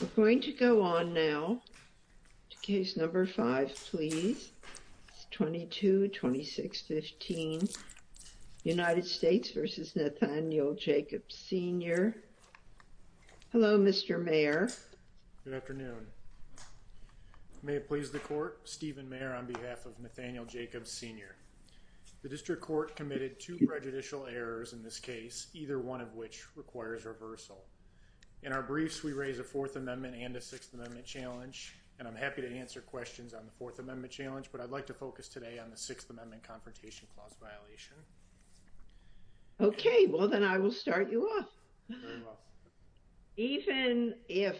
We're going to go on now to Case No. 5, please, 22-2615, United States v. Nathaniel Jacobs, Sr. Hello, Mr. Mayor. Good afternoon. May it please the Court, Stephen Mayer on behalf of Nathaniel Jacobs, Sr. The District Court committed two prejudicial errors in this case, either one of which requires reversal. In our briefs, we raise a Fourth Amendment and a Sixth Amendment challenge, and I'm happy to answer questions on the Fourth Amendment challenge, but I'd like to focus today on the Sixth Amendment Confrontation Clause violation. Okay, well, then I will start you off. Even if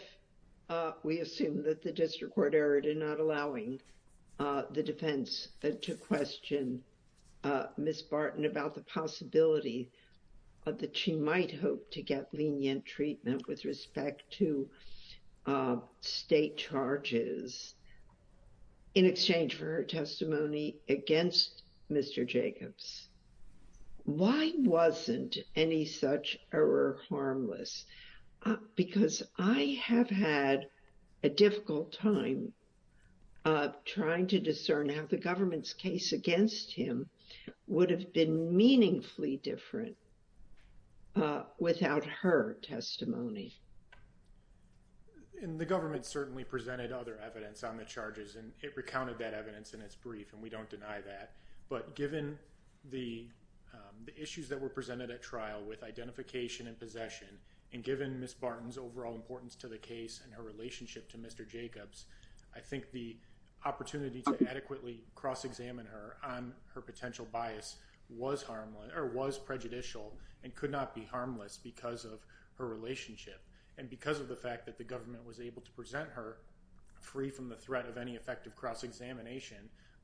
we assume that the District Court erred in not allowing the defense to question Ms. Barton about the possibility that she might hope to get lenient treatment with respect to state charges in exchange for her testimony against Mr. Jacobs, why wasn't any such error harmless? Because I have had a difficult time trying to discern how the government's case against him would have been meaningfully different without her testimony. And the government certainly presented other evidence on the charges, and it recounted that evidence in its brief, and we don't deny that. But given the issues that were presented at trial with identification and possession, and given Ms. Barton's overall importance to the case and her relationship to Mr. Jacobs, I think the opportunity to adequately cross-examine her on her potential bias was prejudicial and could not be harmless because of her relationship. And because of the fact that the government was able to present her free from the threat of any effective cross-examination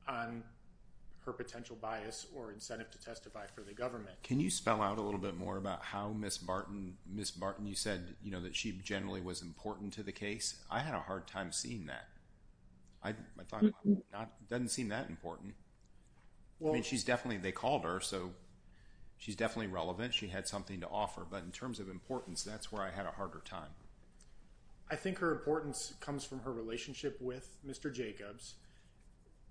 on her potential bias or incentive to testify for the government. Can you spell out a little bit more about how Ms. Barton, Ms. Barton, you said, you know, that she generally was important to the case? I had a hard time seeing that. I thought it doesn't seem that important. I mean, she's definitely, they called her, so she's definitely relevant. She had something to offer. But in terms of importance, that's where I had a harder time. I think her importance comes from her relationship with Mr. Jacobs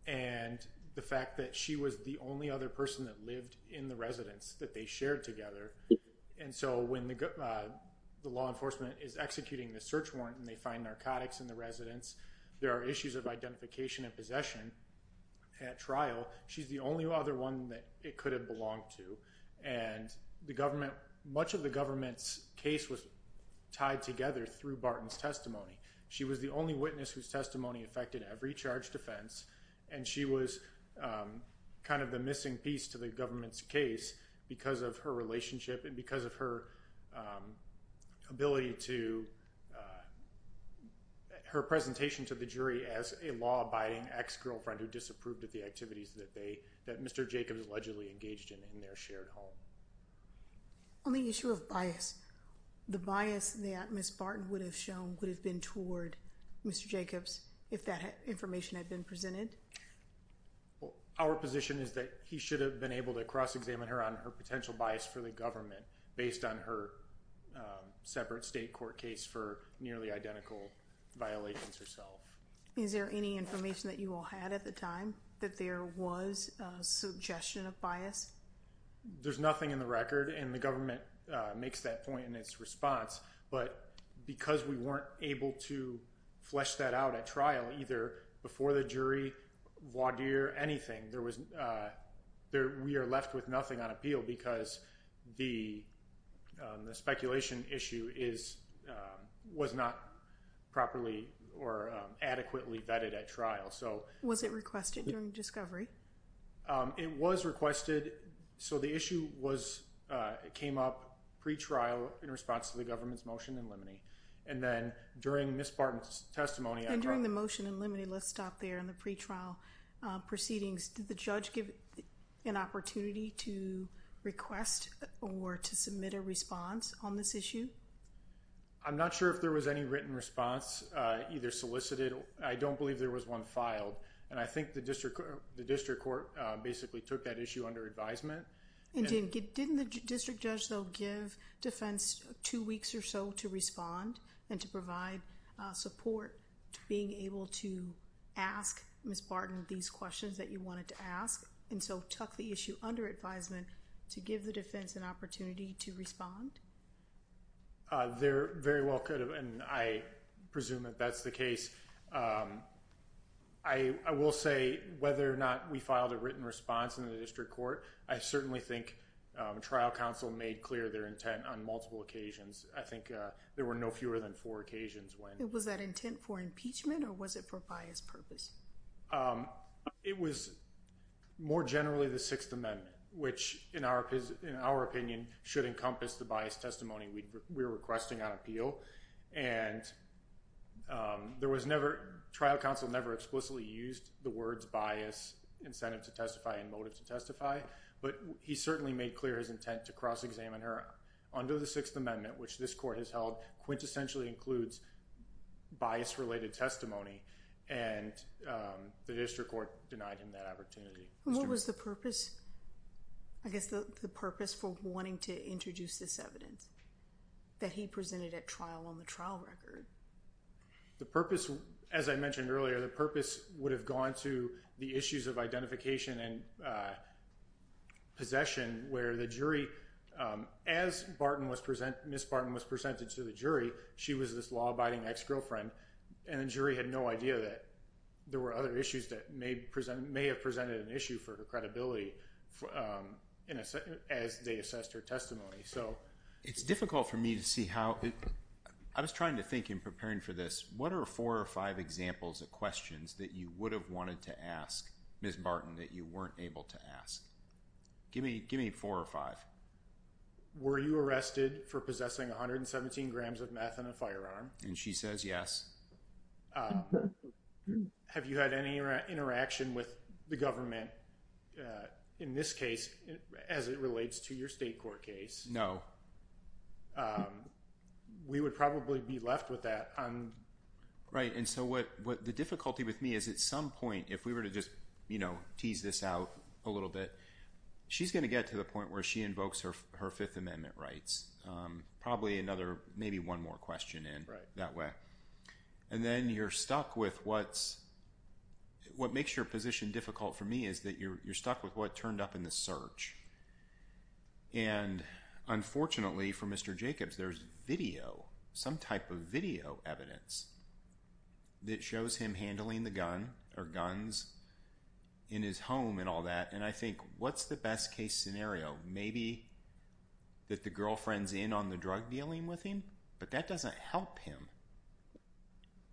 and the fact that she was the only other person that lived in the residence that they shared together. And so when the law enforcement is executing the search warrant and they find narcotics in the residence, there are issues of identification and possession at trial. She's the only other one that it could have belonged to. And the government, much of the government's case was tied together through Barton's testimony. She was the only witness whose testimony affected every charge defense, and she was kind of the missing piece to the government's case because of her relationship and because of her ability to, her presentation to the jury as a law-abiding ex-girlfriend who disapproved of the activities that they, that Mr. Jacobs allegedly engaged in in their shared home. On the issue of bias, the bias that Ms. Barton would have shown would have been toward Mr. Jacobs if that information had been presented? Well, our position is that he should have been able to cross-examine her on her potential bias for the government based on her separate state court case for nearly identical violations herself. Is there any information that you all had at the time that there was a suggestion of bias? There's nothing in the record, and the government makes that point in its response. But because we weren't able to flesh that out at trial, either before the jury, voir dire, anything, there was, we are left with nothing on appeal because the speculation issue is, was not properly or adequately vetted at trial. Was it requested during discovery? It was requested, so the issue was, it came up pre-trial in response to the government's motion in limine. And then during Ms. Barton's testimony... And during the motion in limine, let's stop there, in the pre-trial proceedings, did the judge give an opportunity to request or to submit a response on this issue? I'm not sure if there was any written response, either solicited, I don't believe there was one filed. And I think the district court basically took that issue under advisement. And didn't the district judge, though, give defense two weeks or so to respond and to provide support to being able to ask Ms. Barton these questions that you wanted to ask? And so tuck the issue under advisement to give the defense an opportunity to respond? There very well could have, and I presume that that's the case. I will say whether or not we filed a written response in the district court, I certainly think trial counsel made clear their intent on multiple occasions. I think there were no fewer than four occasions when... Was that intent for impeachment or was it for biased purpose? It was more generally the Sixth Amendment, which in our opinion should encompass the biased testimony we were requesting on appeal. And there was never... Trial counsel never explicitly used the words bias, incentive to testify, and motive to testify. But he certainly made clear his intent to cross-examine her under the Sixth Amendment, which this court has held quintessentially includes bias-related testimony. And the district court denied him that opportunity. What was the purpose, I guess, the purpose for wanting to introduce this evidence that he presented at trial on the trial record? The purpose, as I mentioned earlier, the purpose would have gone to the issues of identification and possession where the jury... Ms. Barton was presented to the jury. She was this law-abiding ex-girlfriend. And the jury had no idea that there were other issues that may have presented an issue for her credibility as they assessed her testimony. It's difficult for me to see how... I was trying to think in preparing for this. What are four or five examples of questions that you would have wanted to ask Ms. Barton that you weren't able to ask? Give me four or five. Were you arrested for possessing 117 grams of meth in a firearm? And she says yes. Have you had any interaction with the government in this case as it relates to your state court case? No. We would probably be left with that. Right, and so what the difficulty with me is at some point, if we were to just tease this out a little bit, she's going to get to the point where she invokes her Fifth Amendment rights. Probably another, maybe one more question in that way. And then you're stuck with what's... what makes your position difficult for me is that you're stuck with what turned up in the search. And unfortunately for Mr. Jacobs, there's video, some type of video evidence that shows him handling the gun or guns in his home and all that. And I think, what's the best case scenario? Maybe that the girlfriend's in on the drug dealing with him, but that doesn't help him.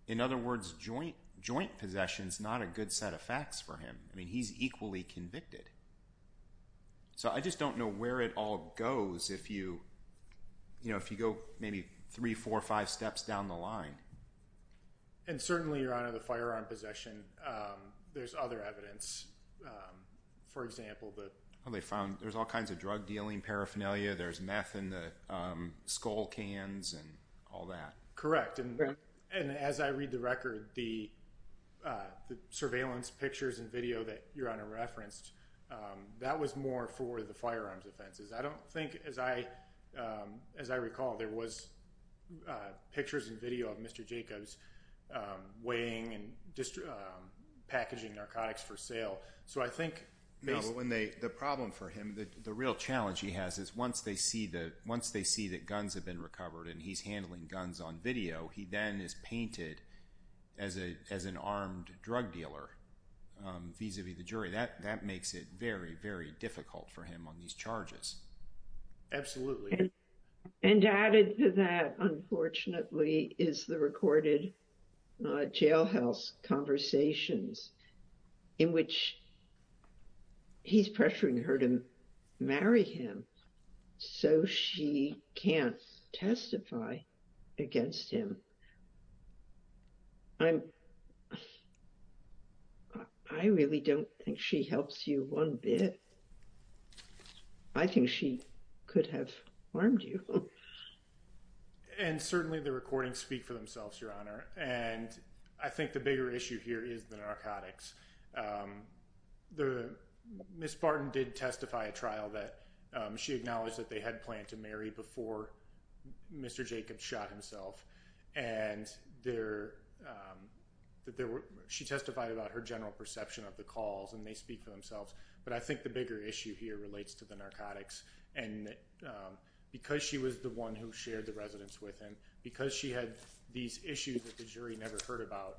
In other words, joint possession's not a good set of facts for him. I mean, he's equally convicted. So I just don't know where it all goes if you go maybe three, four, five steps down the line. And certainly, Your Honor, the firearm possession, there's other evidence. For example, the... Oh, they found... there's all kinds of drug dealing, paraphernalia, there's meth in the skull cans and all that. Correct, and as I read the record, the surveillance pictures and video that Your Honor referenced, that was more for the firearms offenses. I don't think, as I recall, there was pictures and video of Mr. Jacobs weighing and packaging narcotics for sale. So I think... No, but when they... the problem for him, the real challenge he has is once they see that guns have been recovered and he's handling guns on video, he then is painted as an armed drug dealer vis-a-vis the jury. That makes it very, very difficult for him on these charges. Absolutely. And added to that, unfortunately, is the recorded jailhouse conversations in which he's pressuring her to marry him so she can't testify against him. I'm... I really don't think she helps you one bit. I think she could have harmed you. And certainly the recordings speak for themselves, Your Honor, and I think the bigger issue here is the narcotics. Ms. Barton did testify at trial that she acknowledged that they had planned to marry before Mr. Jacobs shot himself, and she testified about her general perception of the calls, and they speak for themselves. But I think the bigger issue here relates to the narcotics. And because she was the one who shared the residence with him, because she had these issues that the jury never heard about,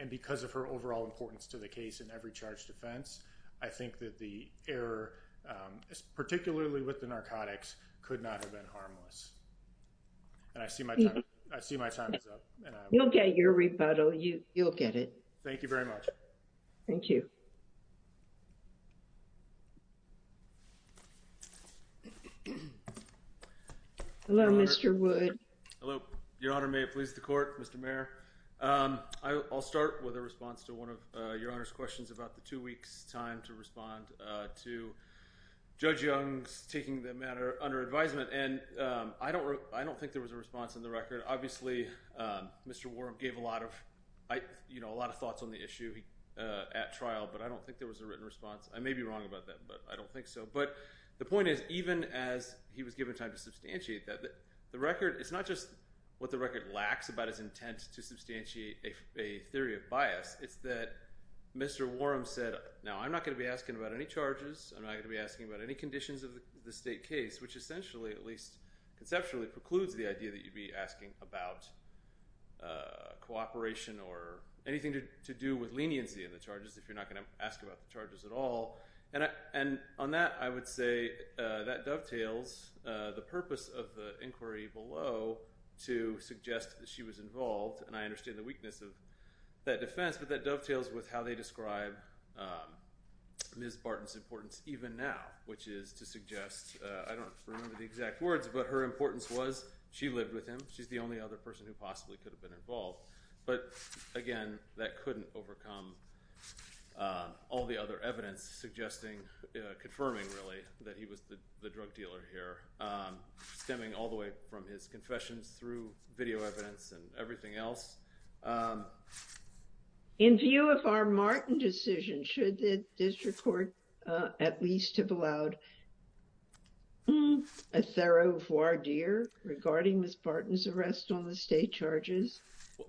and because of her overall importance to the case in every charge defense, I think that the error, particularly with the narcotics, could not have been harmless. And I see my time is up. You'll get your rebuttal. You'll get it. Thank you very much. Thank you. Hello, Mr. Wood. Hello. Your Honor, may it please the Court? Mr. Mayor? I'll start with a response to one of Your Honor's questions about the two weeks' time to respond to Judge Young's taking the matter under advisement. And I don't think there was a response in the record. Obviously, Mr. Warren gave a lot of thoughts on the issue at trial, but I don't think there was a written response. I may be wrong about that, but I don't think so. But the point is, even as he was given time to substantiate that, the record – it's not just what the record lacks about its intent to substantiate a theory of bias. It's that Mr. Warren said, now, I'm not going to be asking about any charges. I'm not going to be asking about any conditions of the state case, which essentially, at least conceptually, precludes the idea that you'd be asking about cooperation or anything to do with leniency in the charges if you're not going to ask about the charges at all. And on that, I would say that dovetails the purpose of the inquiry below to suggest that she was involved. And I understand the weakness of that defense, but that dovetails with how they describe Ms. Barton's importance even now, which is to suggest – I don't remember the exact words, but her importance was she lived with him. She's the only other person who possibly could have been involved. But again, that couldn't overcome all the other evidence suggesting – confirming, really, that he was the drug dealer here, stemming all the way from his confessions through video evidence and everything else. In view of our Martin decision, should the district court at least have allowed a thorough voir dire regarding Ms. Barton's arrest on the state charges?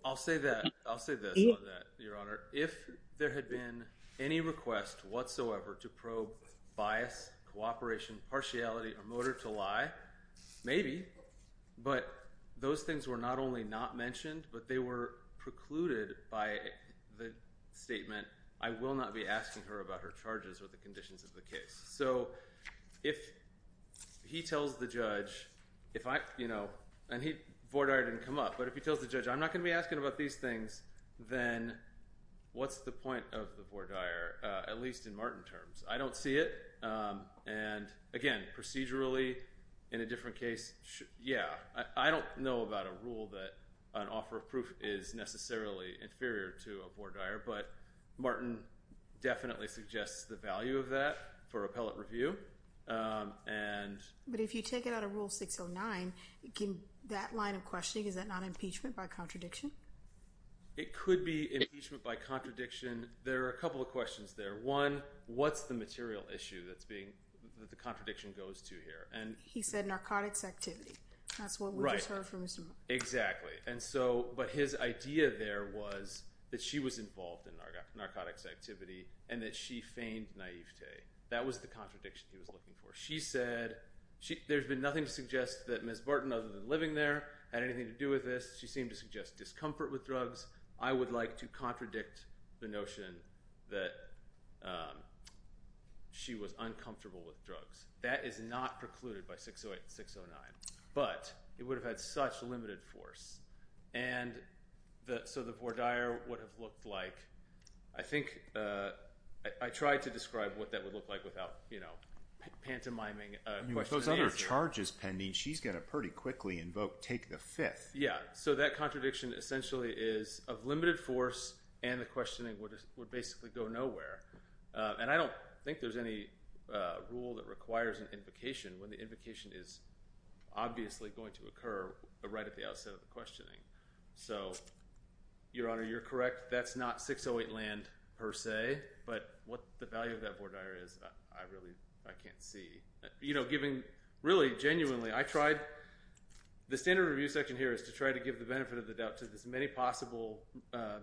I'll say that – I'll say this on that, Your Honor. If there had been any request whatsoever to probe bias, cooperation, partiality, or motive to lie, maybe. But those things were not only not mentioned, but they were precluded by the statement, I will not be asking her about her charges or the conditions of the case. So if he tells the judge if I – and voir dire didn't come up, but if he tells the judge I'm not going to be asking about these things, then what's the point of the voir dire, at least in Martin terms? I don't see it. And again, procedurally, in a different case, yeah. I don't know about a rule that an offer of proof is necessarily inferior to a voir dire, but Martin definitely suggests the value of that for appellate review. But if you take it out of Rule 609, that line of questioning, is that not impeachment by contradiction? It could be impeachment by contradiction. There are a couple of questions there. One, what's the material issue that's being – that the contradiction goes to here? He said narcotics activity. That's what we just heard from Mr. Martin. Right. Exactly. And so – but his idea there was that she was involved in narcotics activity and that she feigned naivete. That was the contradiction he was looking for. She said there's been nothing to suggest that Ms. Barton, other than living there, had anything to do with this. She seemed to suggest discomfort with drugs. I would like to contradict the notion that she was uncomfortable with drugs. That is not precluded by 608 and 609, but it would have had such limited force. And so the voir dire would have looked like – I think – I tried to describe what that would look like without pantomiming. With those other charges pending, she's going to pretty quickly invoke take the fifth. Yeah, so that contradiction essentially is of limited force and the questioning would basically go nowhere. And I don't think there's any rule that requires an invocation when the invocation is obviously going to occur right at the outset of the questioning. So, Your Honor, you're correct. That's not 608 land per se, but what the value of that voir dire is, I really – I can't see. Really, genuinely, I tried – the standard review section here is to try to give the benefit of the doubt to as many possible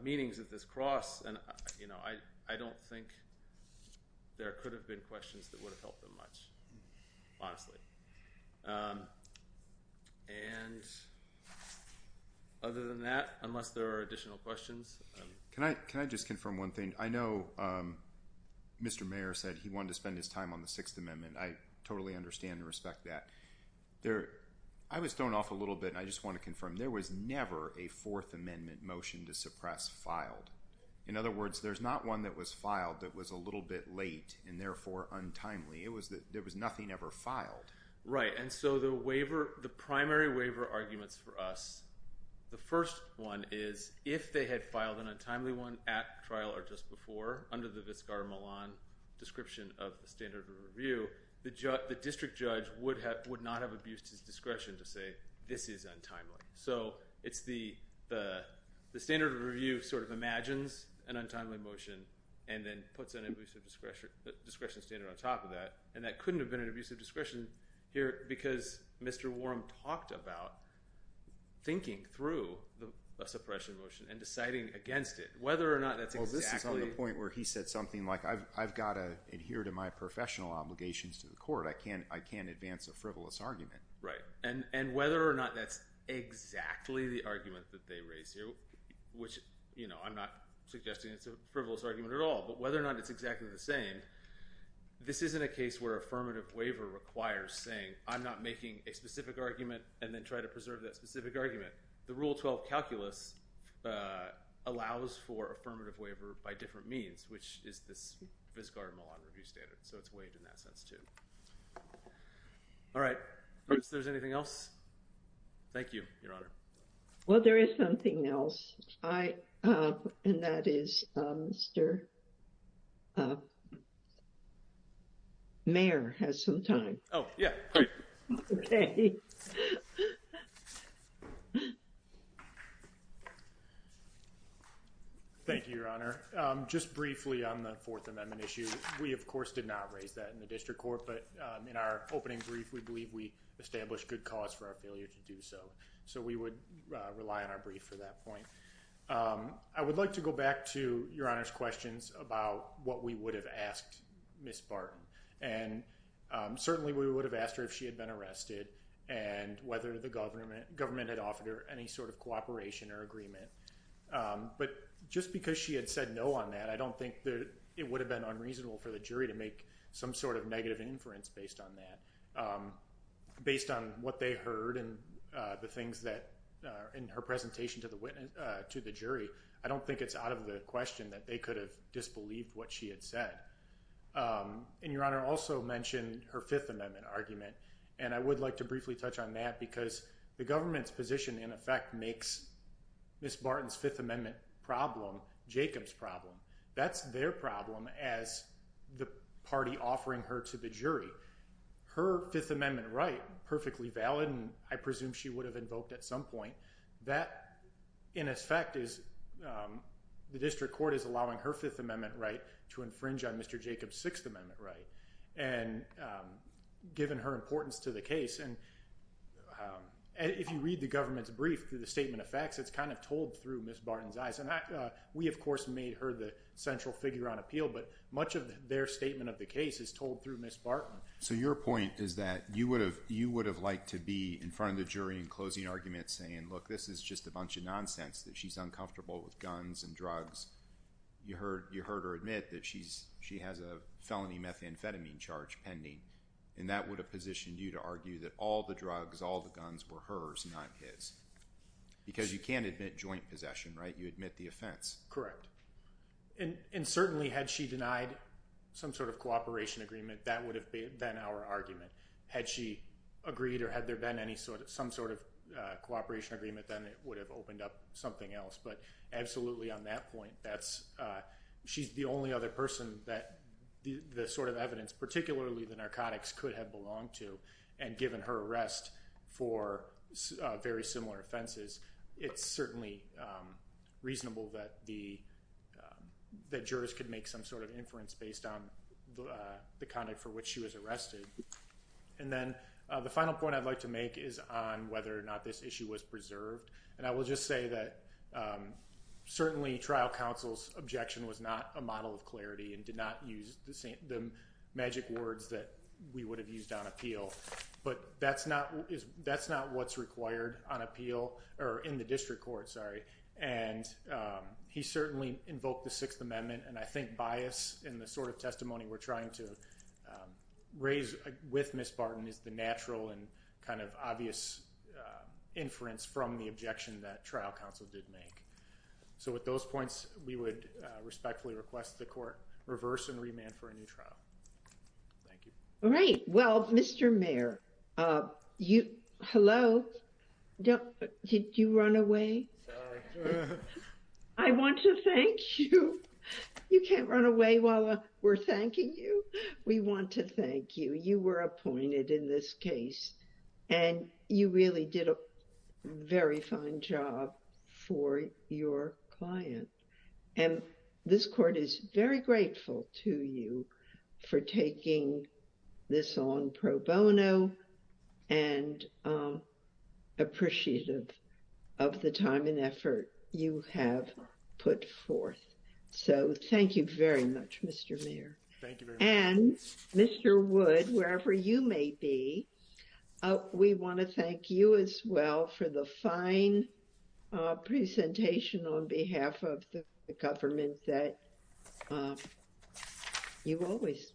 meanings of this cross. And I don't think there could have been questions that would have helped them much, honestly. And other than that, unless there are additional questions. Can I just confirm one thing? I know Mr. Mayer said he wanted to spend his time on the Sixth Amendment. I totally understand and respect that. I was thrown off a little bit and I just want to confirm. There was never a Fourth Amendment motion to suppress filed. In other words, there's not one that was filed that was a little bit late and therefore untimely. There was nothing ever filed. Right. And so the waiver – the primary waiver arguments for us, the first one is if they had filed an untimely one at trial or just before, under the Viscar Milan description of the standard of review, the district judge would not have abused his discretion to say this is untimely. So it's the standard of review sort of imagines an untimely motion and then puts an abusive discretion standard on top of that. And that couldn't have been an abusive discretion here because Mr. Warren talked about thinking through a suppression motion and deciding against it. Whether or not that's exactly – Well, this is on the point where he said something like I've got to adhere to my professional obligations to the court. I can't advance a frivolous argument. Right. And whether or not that's exactly the argument that they raise here, which I'm not suggesting it's a frivolous argument at all, but whether or not it's exactly the same, this isn't a case where affirmative waiver requires saying I'm not making a specific argument and then try to preserve that specific argument. The Rule 12 calculus allows for affirmative waiver by different means, which is this Viscar Milan review standard. So it's waived in that sense too. All right. Is there anything else? Thank you, Your Honor. Well, there is something else. And that is Mr. Mayor has some time. Oh, yeah. Great. Okay. Thank you, Your Honor. Just briefly on the Fourth Amendment issue, we, of course, did not raise that in the district court, but in our opening brief we believe we established good cause for our failure to do so. So we would rely on our brief for that point. I would like to go back to Your Honor's questions about what we would have asked Ms. Barton. And certainly we would have asked her if she had been arrested and whether the government had offered her any sort of cooperation or agreement. But just because she had said no on that, I don't think it would have been unreasonable for the jury to make some sort of negative inference based on that. I think what we heard in her presentation to the jury, I don't think it's out of the question that they could have disbelieved what she had said. And Your Honor also mentioned her Fifth Amendment argument, and I would like to briefly touch on that because the government's position, in effect, makes Ms. Barton's Fifth Amendment problem Jacob's problem. That's their problem as the party offering her to the jury. Her Fifth Amendment right, perfectly valid, and I presume she would have invoked at some point, that, in effect, is the district court is allowing her Fifth Amendment right to infringe on Mr. Jacob's Sixth Amendment right. And given her importance to the case, and if you read the government's brief through the statement of facts, it's kind of told through Ms. Barton's eyes. We, of course, made her the central figure on appeal, but much of their statement of the case is told through Ms. Barton. So your point is that you would have liked to be in front of the jury in closing argument saying, look, this is just a bunch of nonsense that she's uncomfortable with guns and drugs. You heard her admit that she has a felony methamphetamine charge pending, and that would have positioned you to argue that all the drugs, all the guns were hers, not his. Because you can't admit joint possession, right? You admit the offense. Correct. And certainly had she denied some sort of cooperation agreement, that would have been our argument. Had she agreed or had there been some sort of cooperation agreement, then it would have opened up something else. But absolutely on that point, she's the only other person that the sort of evidence, particularly the narcotics, could have belonged to. And given her arrest for very similar offenses, it's certainly reasonable that the jurors could make some sort of inference based on the conduct for which she was arrested. And then the final point I'd like to make is on whether or not this issue was preserved. And I will just say that certainly trial counsel's objection was not a model of clarity and did not use the magic words that we would have used on appeal. But that's not what's required on appeal or in the district court. Sorry. And he certainly invoked the Sixth Amendment. And I think bias in the sort of testimony we're trying to raise with Miss Barton is the natural and kind of obvious inference from the objection that trial counsel did make. So with those points, we would respectfully request the court reverse and remand for a new trial. Thank you. All right. Well, Mr. Mayor, hello. Did you run away? I want to thank you. You can't run away while we're thanking you. We want to thank you. You were appointed in this case and you really did a very fine job for your client. And this court is very grateful to you for taking this on pro bono and appreciative of the time and effort you have put forth. So thank you very much, Mr. Mayor. Thank you. And Mr. Wood, wherever you may be, we want to thank you as well for the fine presentation on behalf of the government that you always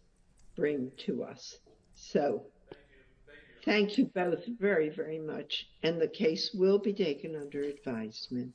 bring to us. So thank you both very, very much. And the case will be taken under advisement.